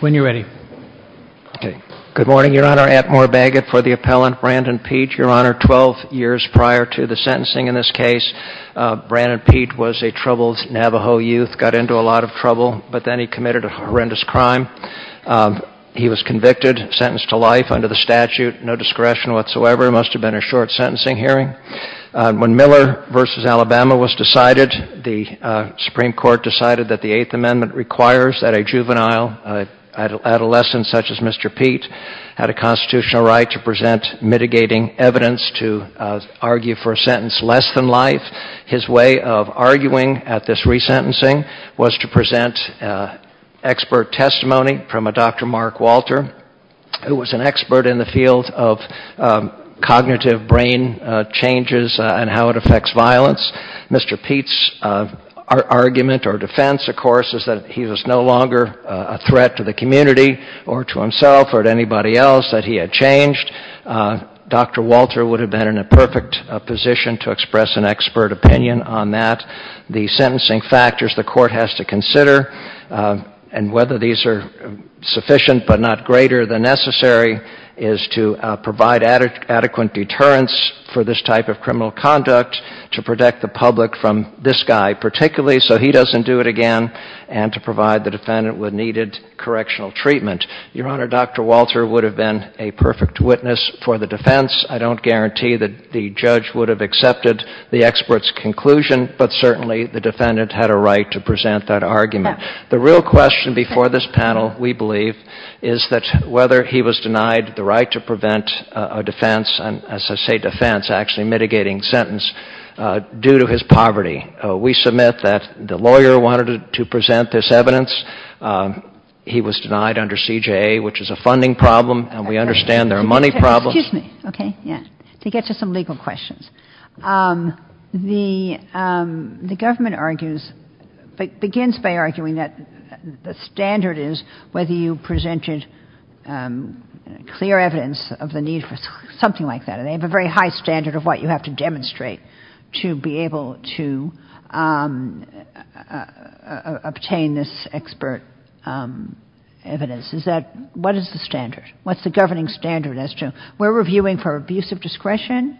When you're ready. Okay. Good morning, Your Honor. Atmore Bagot for the appellant, Branden Pete. Your Honor, 12 years prior to the sentencing in this case, Branden Pete was a troubled Navajo youth, got into a lot of trouble, but then he committed a horrendous crime. He was convicted, sentenced to life under the statute, no discretion whatsoever. It must have been a short sentencing hearing. When Miller v. Alabama was decided, the Supreme Court decided that the Eighth Amendment requires that a juvenile, an adolescent such as Mr. Pete, had a constitutional right to present mitigating evidence to argue for a sentence less than life. His way of arguing at this resentencing was to present expert testimony from a Dr. Mark Walter, who was an expert in the field of cognitive brain changes and how it affects violence. Mr. Pete's argument or defense, of course, is that he was no longer a threat to the community or to himself or to anybody else that he had changed. Dr. Walter would have been in a perfect position to express an expert opinion on that. The sentencing factors the court has to consider, and whether these are sufficient but not greater than necessary, is to provide adequate deterrence for this type of criminal conduct, to protect the public from this guy particularly so he doesn't do it again, and to provide the defendant with needed correctional treatment. Your Honor, Dr. Walter would have been a perfect witness for the defense. I don't guarantee that the judge would have accepted the expert's conclusion, but certainly the defendant had a right to present that argument. The real question before this panel, we believe, is that whether he was denied the right to prevent a defense, and as I say defense, actually mitigating sentence, due to his poverty. We submit that the lawyer wanted to present this evidence. He was denied under CJA, which is a funding problem, and we understand there are money problems. Excuse me. Okay. Yeah. To get to some legal questions. The government argues, begins by arguing that the standard is whether you presented clear evidence of the need for something like that, and they have a very high standard of what you have to demonstrate to be able to obtain this expert evidence. What is the standard? What's the governing standard? We're reviewing for abuse of discretion?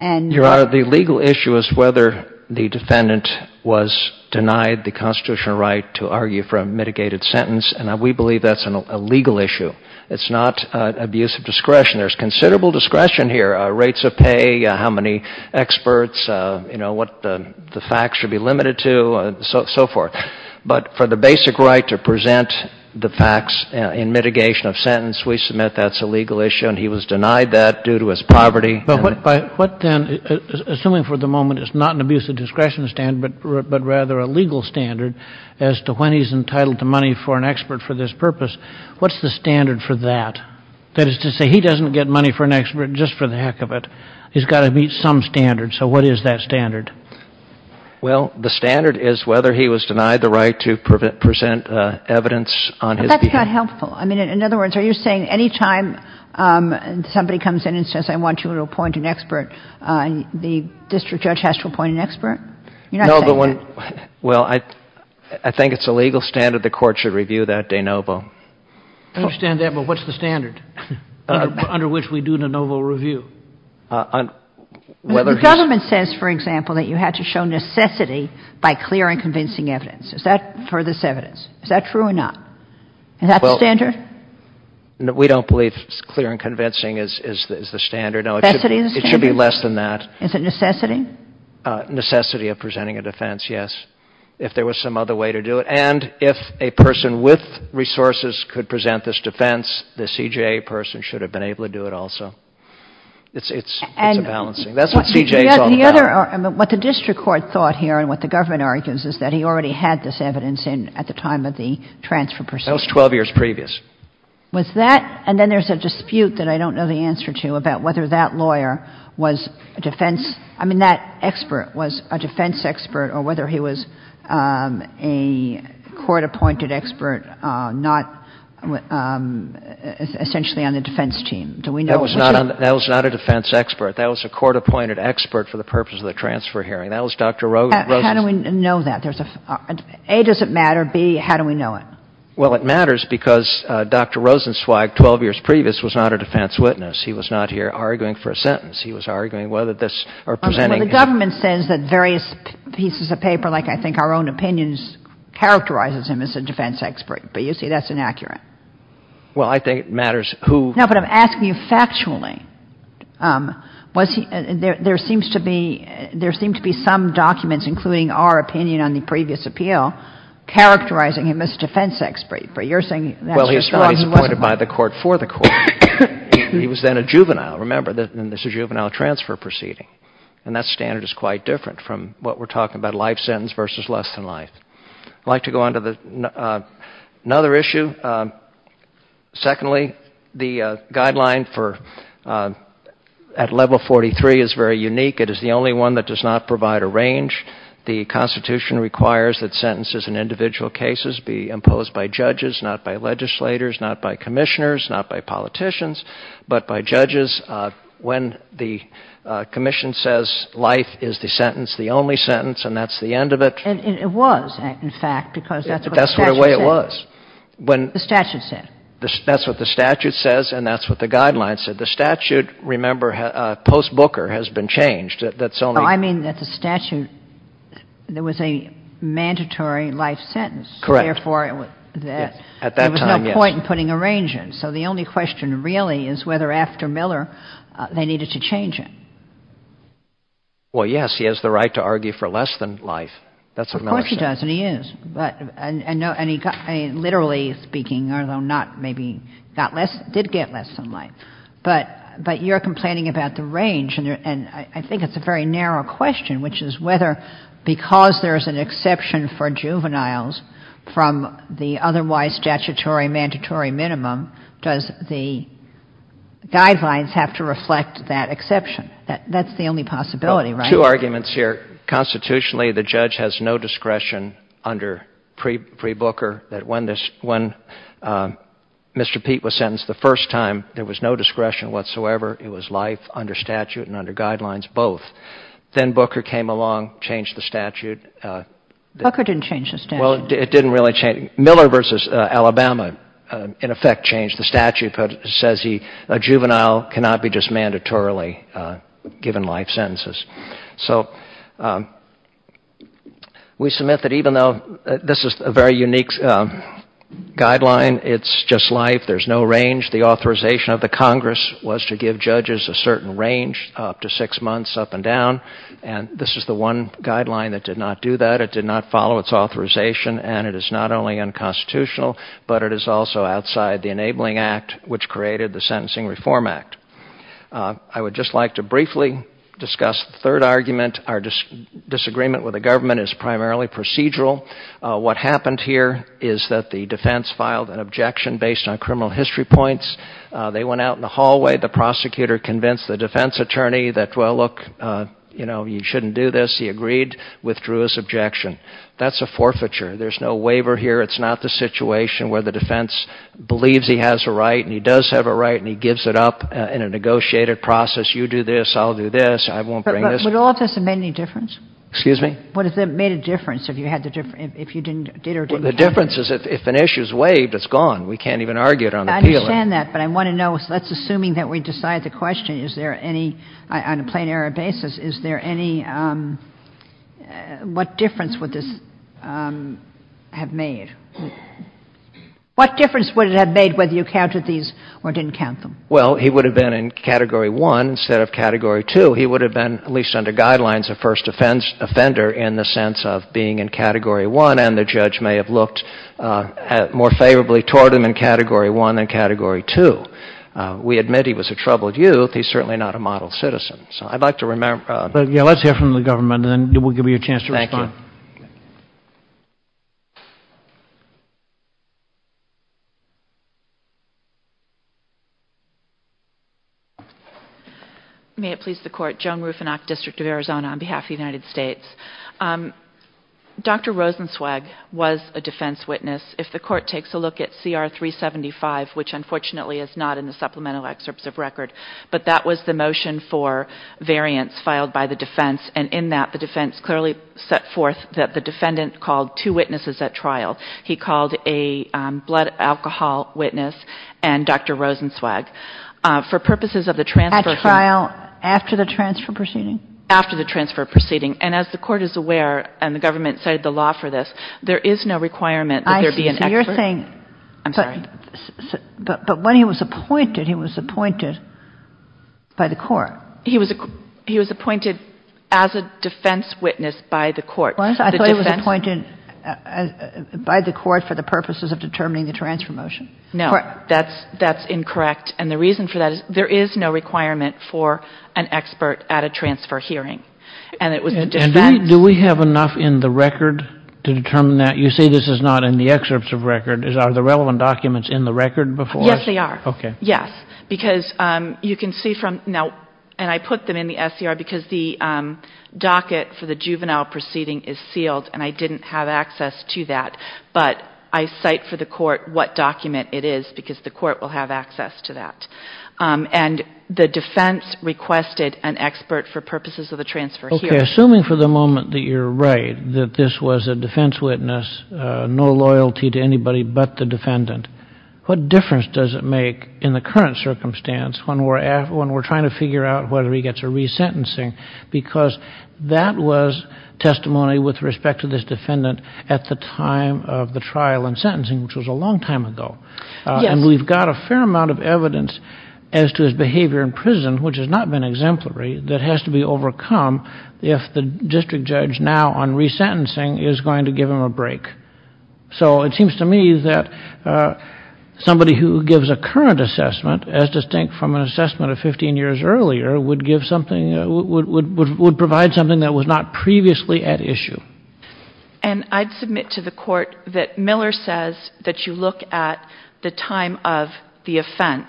Your Honor, the legal issue is whether the defendant was denied the constitutional right to argue for a mitigated sentence, and we believe that's a legal issue. It's not abuse of discretion. There's considerable discretion here, rates of pay, how many experts, what the facts should be limited to, and so forth. But for the basic right to present the facts in mitigation of sentence, we submit that's a legal issue, and he was denied that due to his poverty. But what then, assuming for the moment it's not an abuse of discretion standard, but rather a legal standard as to when he's entitled to money for an expert for this purpose, what's the standard for that? That is to say, he doesn't get money for an expert just for the heck of it. He's got to meet some standard, so what is that standard? Well, the standard is whether he was denied the right to present evidence on his behalf. But that's not helpful. I mean, in other words, are you saying any time somebody comes in and says, I want you to appoint an expert, the district judge has to appoint an expert? You're not saying that. Well, I think it's a legal standard the Court should review that de novo. I understand that, but what's the standard under which we do de novo review? The government says, for example, that you have to show necessity by clear and convincing evidence. Is that for this evidence? Is that true or not? Is that the standard? We don't believe clear and convincing is the standard. It should be less than that. Is it necessity? Necessity of presenting a defense, yes, if there was some other way to do it. And if a person with resources could present this defense, the CJA person should have been able to do it also. It's a balancing. That's what CJA is all about. What the district court thought here and what the government argues is that he already had this evidence in at the time of the transfer proceeding. That was 12 years previous. Was that, and then there's a dispute that I don't know the answer to about whether that lawyer was a defense, I mean, that expert was a defense expert or whether he was a court-appointed expert not essentially on the defense team. Do we know? That was not a defense expert. That was a court-appointed expert for the purpose of the transfer hearing. That was Dr. Rosen. How do we know that? A, does it matter? B, how do we know it? Well, it matters because Dr. Rosenzweig, 12 years previous, was not a defense witness. He was not here arguing for a sentence. He was arguing whether this or presenting it. Well, the government says that various pieces of paper, like I think our own opinions, characterizes him as a defense expert. But you say that's inaccurate. Well, I think it matters who. No, but I'm asking you factually. There seems to be some documents, including our opinion on the previous appeal, characterizing him as a defense expert. But you're saying that's just not who he was. Well, he was appointed by the court for the court. He was then a juvenile. Remember, this is a juvenile transfer proceeding. And that standard is quite different from what we're talking about, life sentence versus less than life. I'd like to go on to another issue. Secondly, the guideline at Level 43 is very unique. It is the only one that does not provide a range. The Constitution requires that sentences in individual cases be imposed by judges, not by legislators, not by commissioners, not by politicians, but by judges. When the commission says life is the sentence, the only sentence, and that's the end of it. And it was, in fact, because that's what the statute said. That's the way it was. The statute said. That's what the statute says, and that's what the guideline said. The statute, remember, post-Booker, has been changed. I mean that the statute, there was a mandatory life sentence. Correct. Therefore, there was no point in putting a range in. So the only question really is whether after Miller they needed to change it. Well, yes, he has the right to argue for less than life. That's what Miller said. Of course he does, and he is. And literally speaking, although not maybe, did get less than life. But you're complaining about the range, and I think it's a very narrow question, which is whether because there's an exception for juveniles from the otherwise statutory mandatory minimum, does the guidelines have to reflect that exception? That's the only possibility, right? Two arguments here. Constitutionally, the judge has no discretion under pre-Booker that when Mr. Peete was sentenced the first time, there was no discretion whatsoever. It was life under statute and under guidelines, both. Then Booker came along, changed the statute. Booker didn't change the statute. Well, it didn't really change. Miller v. Alabama, in effect, changed the statute, but says a juvenile cannot be just mandatorily given life sentences. So we submit that even though this is a very unique guideline, it's just life, there's no range. The authorization of the Congress was to give judges a certain range, up to six months, up and down, and this is the one guideline that did not do that. It did not follow its authorization, and it is not only unconstitutional, but it is also outside the Enabling Act, which created the Sentencing Reform Act. I would just like to briefly discuss the third argument. Our disagreement with the government is primarily procedural. What happened here is that the defense filed an objection based on criminal history points. They went out in the hallway. The prosecutor convinced the defense attorney that, well, look, you know, you shouldn't do this. He agreed, withdrew his objection. That's a forfeiture. There's no waiver here. It's not the situation where the defense believes he has a right, and he does have a right, and he gives it up in a negotiated process, you do this, I'll do this, I won't bring this. But would all of this have made any difference? Excuse me? What would have made a difference if you had the difference, if you did or didn't have it? Well, the difference is if an issue is waived, it's gone. We can't even argue it on the peeling. I understand that, but I want to know, let's assuming that we decide the question, is there any, on a plain error basis, is there any, what difference would this have made? What difference would it have made whether you counted these or didn't count them? Well, he would have been in Category 1 instead of Category 2. He would have been, at least under guidelines, a first offender in the sense of being in Category 1, and the judge may have looked more favorably toward him in Category 1 than Category 2. We admit he was a troubled youth. He's certainly not a model citizen. So I'd like to remember. Yeah, let's hear from the government, and then we'll give you a chance to respond. Thank you. May it please the Court. Joan Rufinock, District of Arizona, on behalf of the United States. Dr. Rosenzweig was a defense witness. If the Court takes a look at CR 375, which unfortunately is not in the supplemental excerpts of record, but that was the motion for variance filed by the defense, two witnesses at trial. He called a blood alcohol witness and Dr. Rosenzweig. For purposes of the transfer here. At trial, after the transfer proceeding? After the transfer proceeding. And as the Court is aware, and the government cited the law for this, there is no requirement that there be an expert. I see. So you're saying. I'm sorry. But when he was appointed, he was appointed by the Court. He was appointed as a defense witness by the Court. I thought he was appointed by the Court for the purposes of determining the transfer motion. No. That's incorrect. And the reason for that is there is no requirement for an expert at a transfer hearing. And it was the defense. Do we have enough in the record to determine that? You say this is not in the excerpts of record. Are the relevant documents in the record before us? Yes, they are. Okay. Yes. Because you can see from now. And I put them in the SCR because the docket for the juvenile proceeding is sealed. And I didn't have access to that. But I cite for the Court what document it is because the Court will have access to that. And the defense requested an expert for purposes of the transfer hearing. Okay. Assuming for the moment that you're right, that this was a defense witness, no loyalty to anybody but the defendant, what difference does it make in the current circumstance when we're trying to figure out whether he gets a resentencing? Because that was testimony with respect to this defendant at the time of the trial and sentencing, which was a long time ago. Yes. And we've got a fair amount of evidence as to his behavior in prison, which has not been exemplary, that has to be overcome if the district judge now on resentencing is going to give him a break. So it seems to me that somebody who gives a current assessment as distinct from an assessment of 15 years earlier would give something, would provide something that was not previously at issue. And I'd submit to the Court that Miller says that you look at the time of the offense,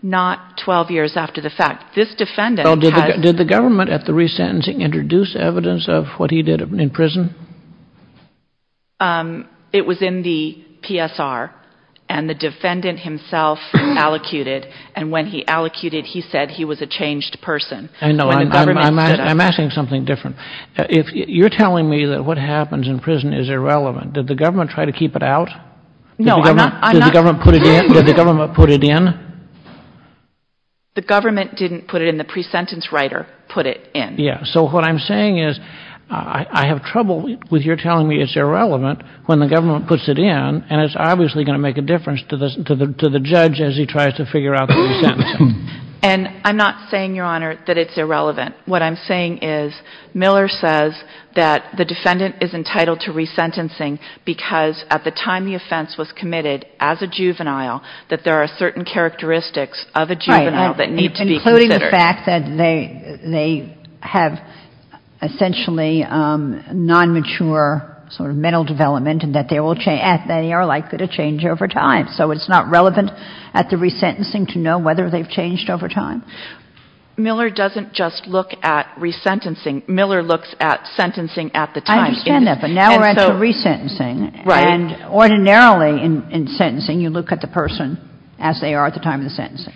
not 12 years after the fact. Did the government at the resentencing introduce evidence of what he did in prison? It was in the PSR, and the defendant himself allocated, and when he allocated, he said he was a changed person. I know. I'm asking something different. You're telling me that what happens in prison is irrelevant. Did the government try to keep it out? No, I'm not. Did the government put it in? The government didn't put it in. The pre-sentence writer put it in. Yes. So what I'm saying is I have trouble with your telling me it's irrelevant when the government puts it in, and it's obviously going to make a difference to the judge as he tries to figure out the resentencing. And I'm not saying, Your Honor, that it's irrelevant. What I'm saying is Miller says that the defendant is entitled to resentencing because at the time the offense was committed, as a juvenile, that there are certain characteristics of a juvenile that need to be considered. Right, including the fact that they have essentially non-mature sort of mental development and that they are likely to change over time. So it's not relevant at the resentencing to know whether they've changed over time? Miller doesn't just look at resentencing. Miller looks at sentencing at the time. I understand that, but now we're at the resentencing. Right. And ordinarily in sentencing you look at the person as they are at the time of the sentencing.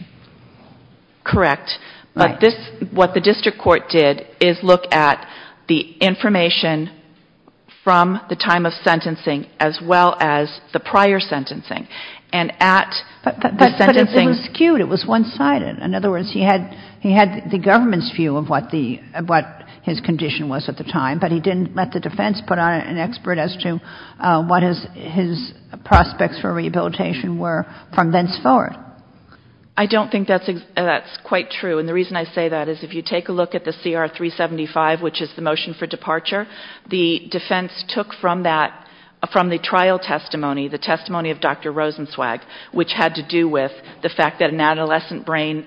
Correct. But this, what the district court did is look at the information from the time of sentencing as well as the prior sentencing. And at the sentencing. But it was skewed. It was one-sided. In other words, he had the government's view of what his condition was at the time, but he didn't let the defense put on an expert as to what his prospects for rehabilitation were from thenceforward. I don't think that's quite true. And the reason I say that is if you take a look at the CR 375, which is the motion for departure, the defense took from that, from the trial testimony, the testimony of Dr. Rosenzweig, which had to do with the fact that an adolescent brain is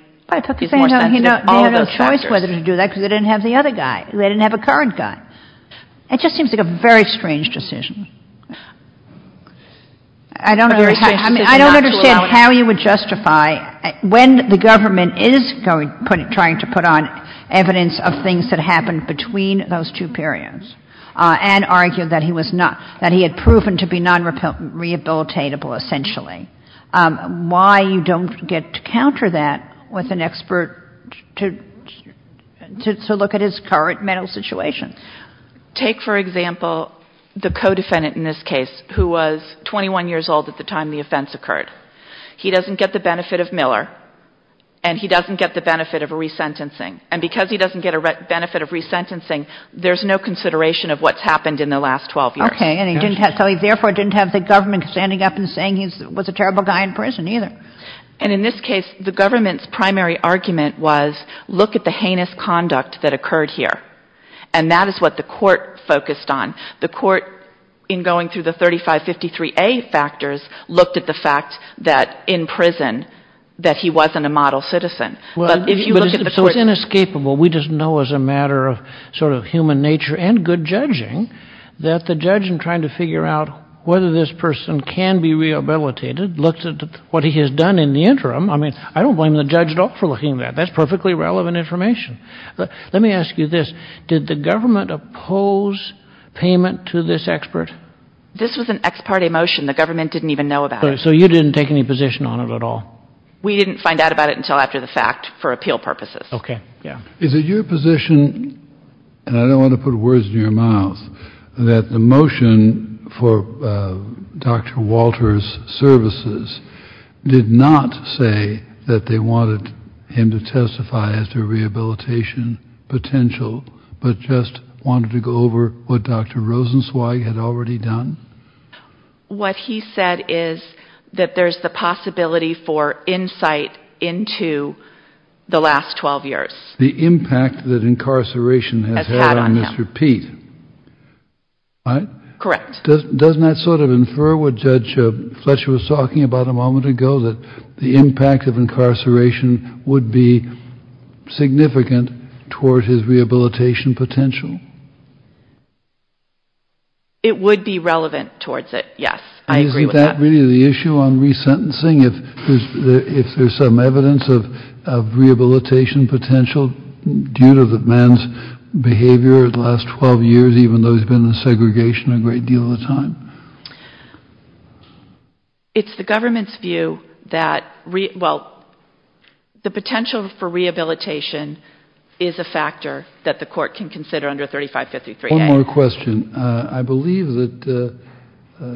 more sensitive to all those factors. They had no choice whether to do that because they didn't have the other guy. They didn't have a current guy. It just seems like a very strange decision. I don't understand how you would justify when the government is trying to put on evidence of things that happened between those two periods and argue that he was not, that he had proven to be non-rehabilitatable essentially, why you don't get to counter that with an expert to look at his current mental situation. Take, for example, the co-defendant in this case who was 21 years old at the time the offense occurred. He doesn't get the benefit of Miller, and he doesn't get the benefit of a resentencing. And because he doesn't get a benefit of resentencing, there's no consideration of what's happened in the last 12 years. So he therefore didn't have the government standing up and saying he was a terrible guy in prison either. And in this case, the government's primary argument was look at the heinous conduct that occurred here. And that is what the court focused on. The court, in going through the 3553A factors, looked at the fact that in prison that he wasn't a model citizen. So it's inescapable. We just know as a matter of sort of human nature and good judging that the judge, in trying to figure out whether this person can be rehabilitated, looked at what he has done in the interim. I mean, I don't blame the judge at all for looking at that. That's perfectly relevant information. Let me ask you this. Did the government oppose payment to this expert? This was an ex parte motion. The government didn't even know about it. So you didn't take any position on it at all? We didn't find out about it until after the fact for appeal purposes. Okay. Is it your position, and I don't want to put words in your mouth, that the motion for Dr. Walter's services did not say that they wanted him to testify as to rehabilitation potential, but just wanted to go over what Dr. Rosenzweig had already done? What he said is that there's the possibility for insight into the last 12 years. The impact that incarceration has had on Mr. Pete. Correct. Doesn't that sort of infer what Judge Fletcher was talking about a moment ago, that the impact of incarceration would be significant toward his rehabilitation potential? It would be relevant towards it, yes. I agree with that. Isn't that really the issue on resentencing? If there's some evidence of rehabilitation potential due to the man's behavior the last 12 years, even though he's been in segregation a great deal of the time? It's the government's view that, well, the potential for rehabilitation is a factor that the court can consider under 3553A. One more question. I believe that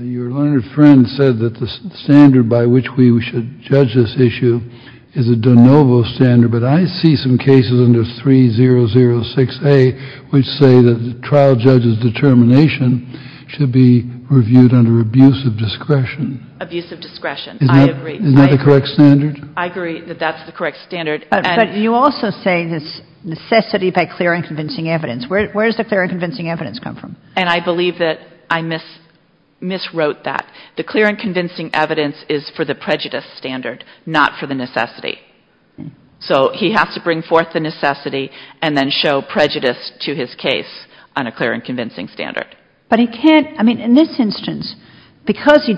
your learned friend said that the standard by which we should judge this issue is a de novo standard, but I see some cases under 3006A which say that the trial judge's determination should be reviewed under abuse of discretion. Abuse of discretion. I agree. Isn't that the correct standard? I agree that that's the correct standard. But you also say there's necessity by clear and convincing evidence. Where does the clear and convincing evidence come from? And I believe that I miswrote that. The clear and convincing evidence is for the prejudice standard, not for the necessity. So he has to bring forth the necessity and then show prejudice to his case on a clear and convincing standard. But he can't, I mean, in this instance, because he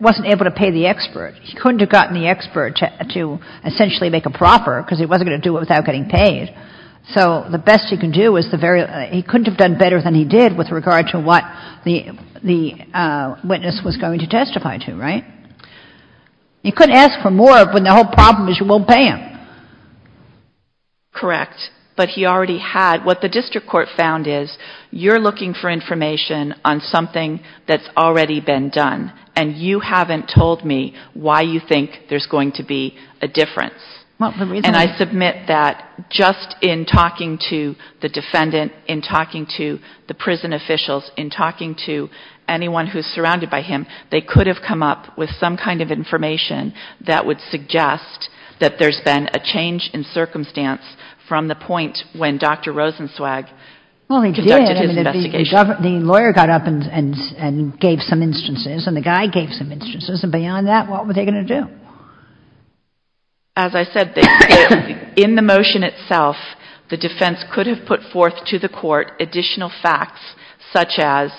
wasn't able to pay the expert, he couldn't have gotten the expert to essentially make a proffer because he wasn't going to do it without getting paid. So the best he can do is the very, he couldn't have done better than he did with regard to what the witness was going to testify to, right? You couldn't ask for more when the whole problem is you won't pay him. Correct. But he already had. What the district court found is you're looking for information on something that's already been done and you haven't told me why you think there's going to be a difference. And I submit that just in talking to the defendant, in talking to the prison officials, in talking to anyone who's surrounded by him, they could have come up with some kind of information that would suggest that there's been a change in circumstance from the point when Dr. Rosenzweig conducted his investigation. The lawyer got up and gave some instances and the guy gave some instances. And beyond that, what were they going to do? As I said, in the motion itself, the defense could have put forth to the court additional facts such as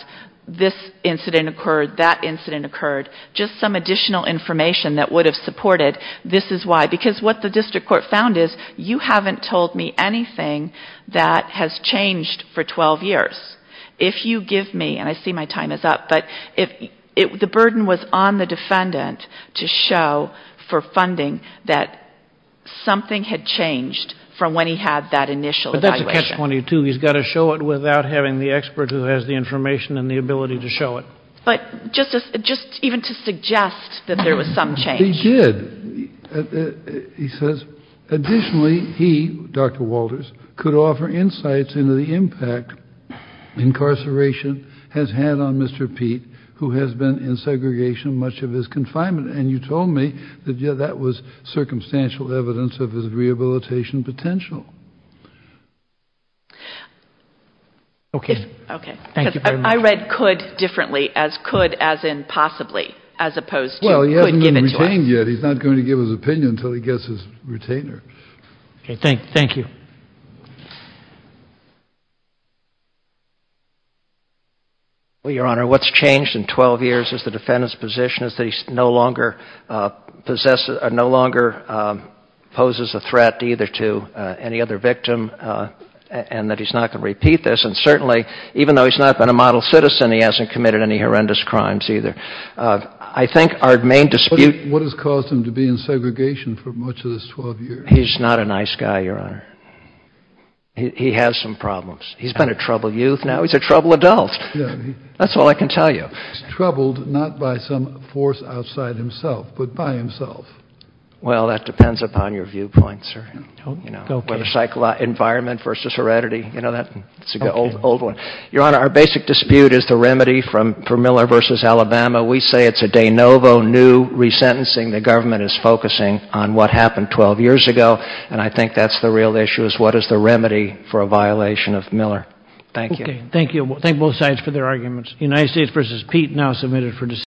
this incident occurred, that incident occurred, just some additional information that would have supported this is why. Because what the district court found is you haven't told me anything that has changed for 12 years. If you give me, and I see my time is up, but the burden was on the defendant to show for funding that something had changed from when he had that initial evaluation. But that's a catch-22. He's got to show it without having the expert who has the information and the ability to show it. But just even to suggest that there was some change. But he did. He says, additionally, he, Dr. Walters, could offer insights into the impact incarceration has had on Mr. Pete, who has been in segregation much of his confinement. And you told me that that was circumstantial evidence of his rehabilitation potential. Okay. Thank you very much. I read could differently as could as in possibly as opposed to could give it to us. He's not going to give his opinion until he gets his retainer. Okay. Thank you. Well, Your Honor, what's changed in 12 years is the defendant's position is that he no longer possesses, no longer poses a threat either to any other victim and that he's not going to repeat this. And certainly, even though he's not been a model citizen, he hasn't committed any horrendous crimes either. I think our main dispute. What has caused him to be in segregation for much of this 12 years? He's not a nice guy, Your Honor. He has some problems. He's been a troubled youth now. He's a troubled adult. That's all I can tell you. He's troubled not by some force outside himself, but by himself. Well, that depends upon your viewpoint, sir. Okay. Environment versus heredity, you know, that's an old one. Your Honor, our basic dispute is the remedy for Miller v. Alabama. We say it's a de novo, new resentencing. The government is focusing on what happened 12 years ago. And I think that's the real issue is what is the remedy for a violation of Miller. Thank you. Okay. Thank you. Thank both sides for their arguments. United States v. Pete now submitted for decision.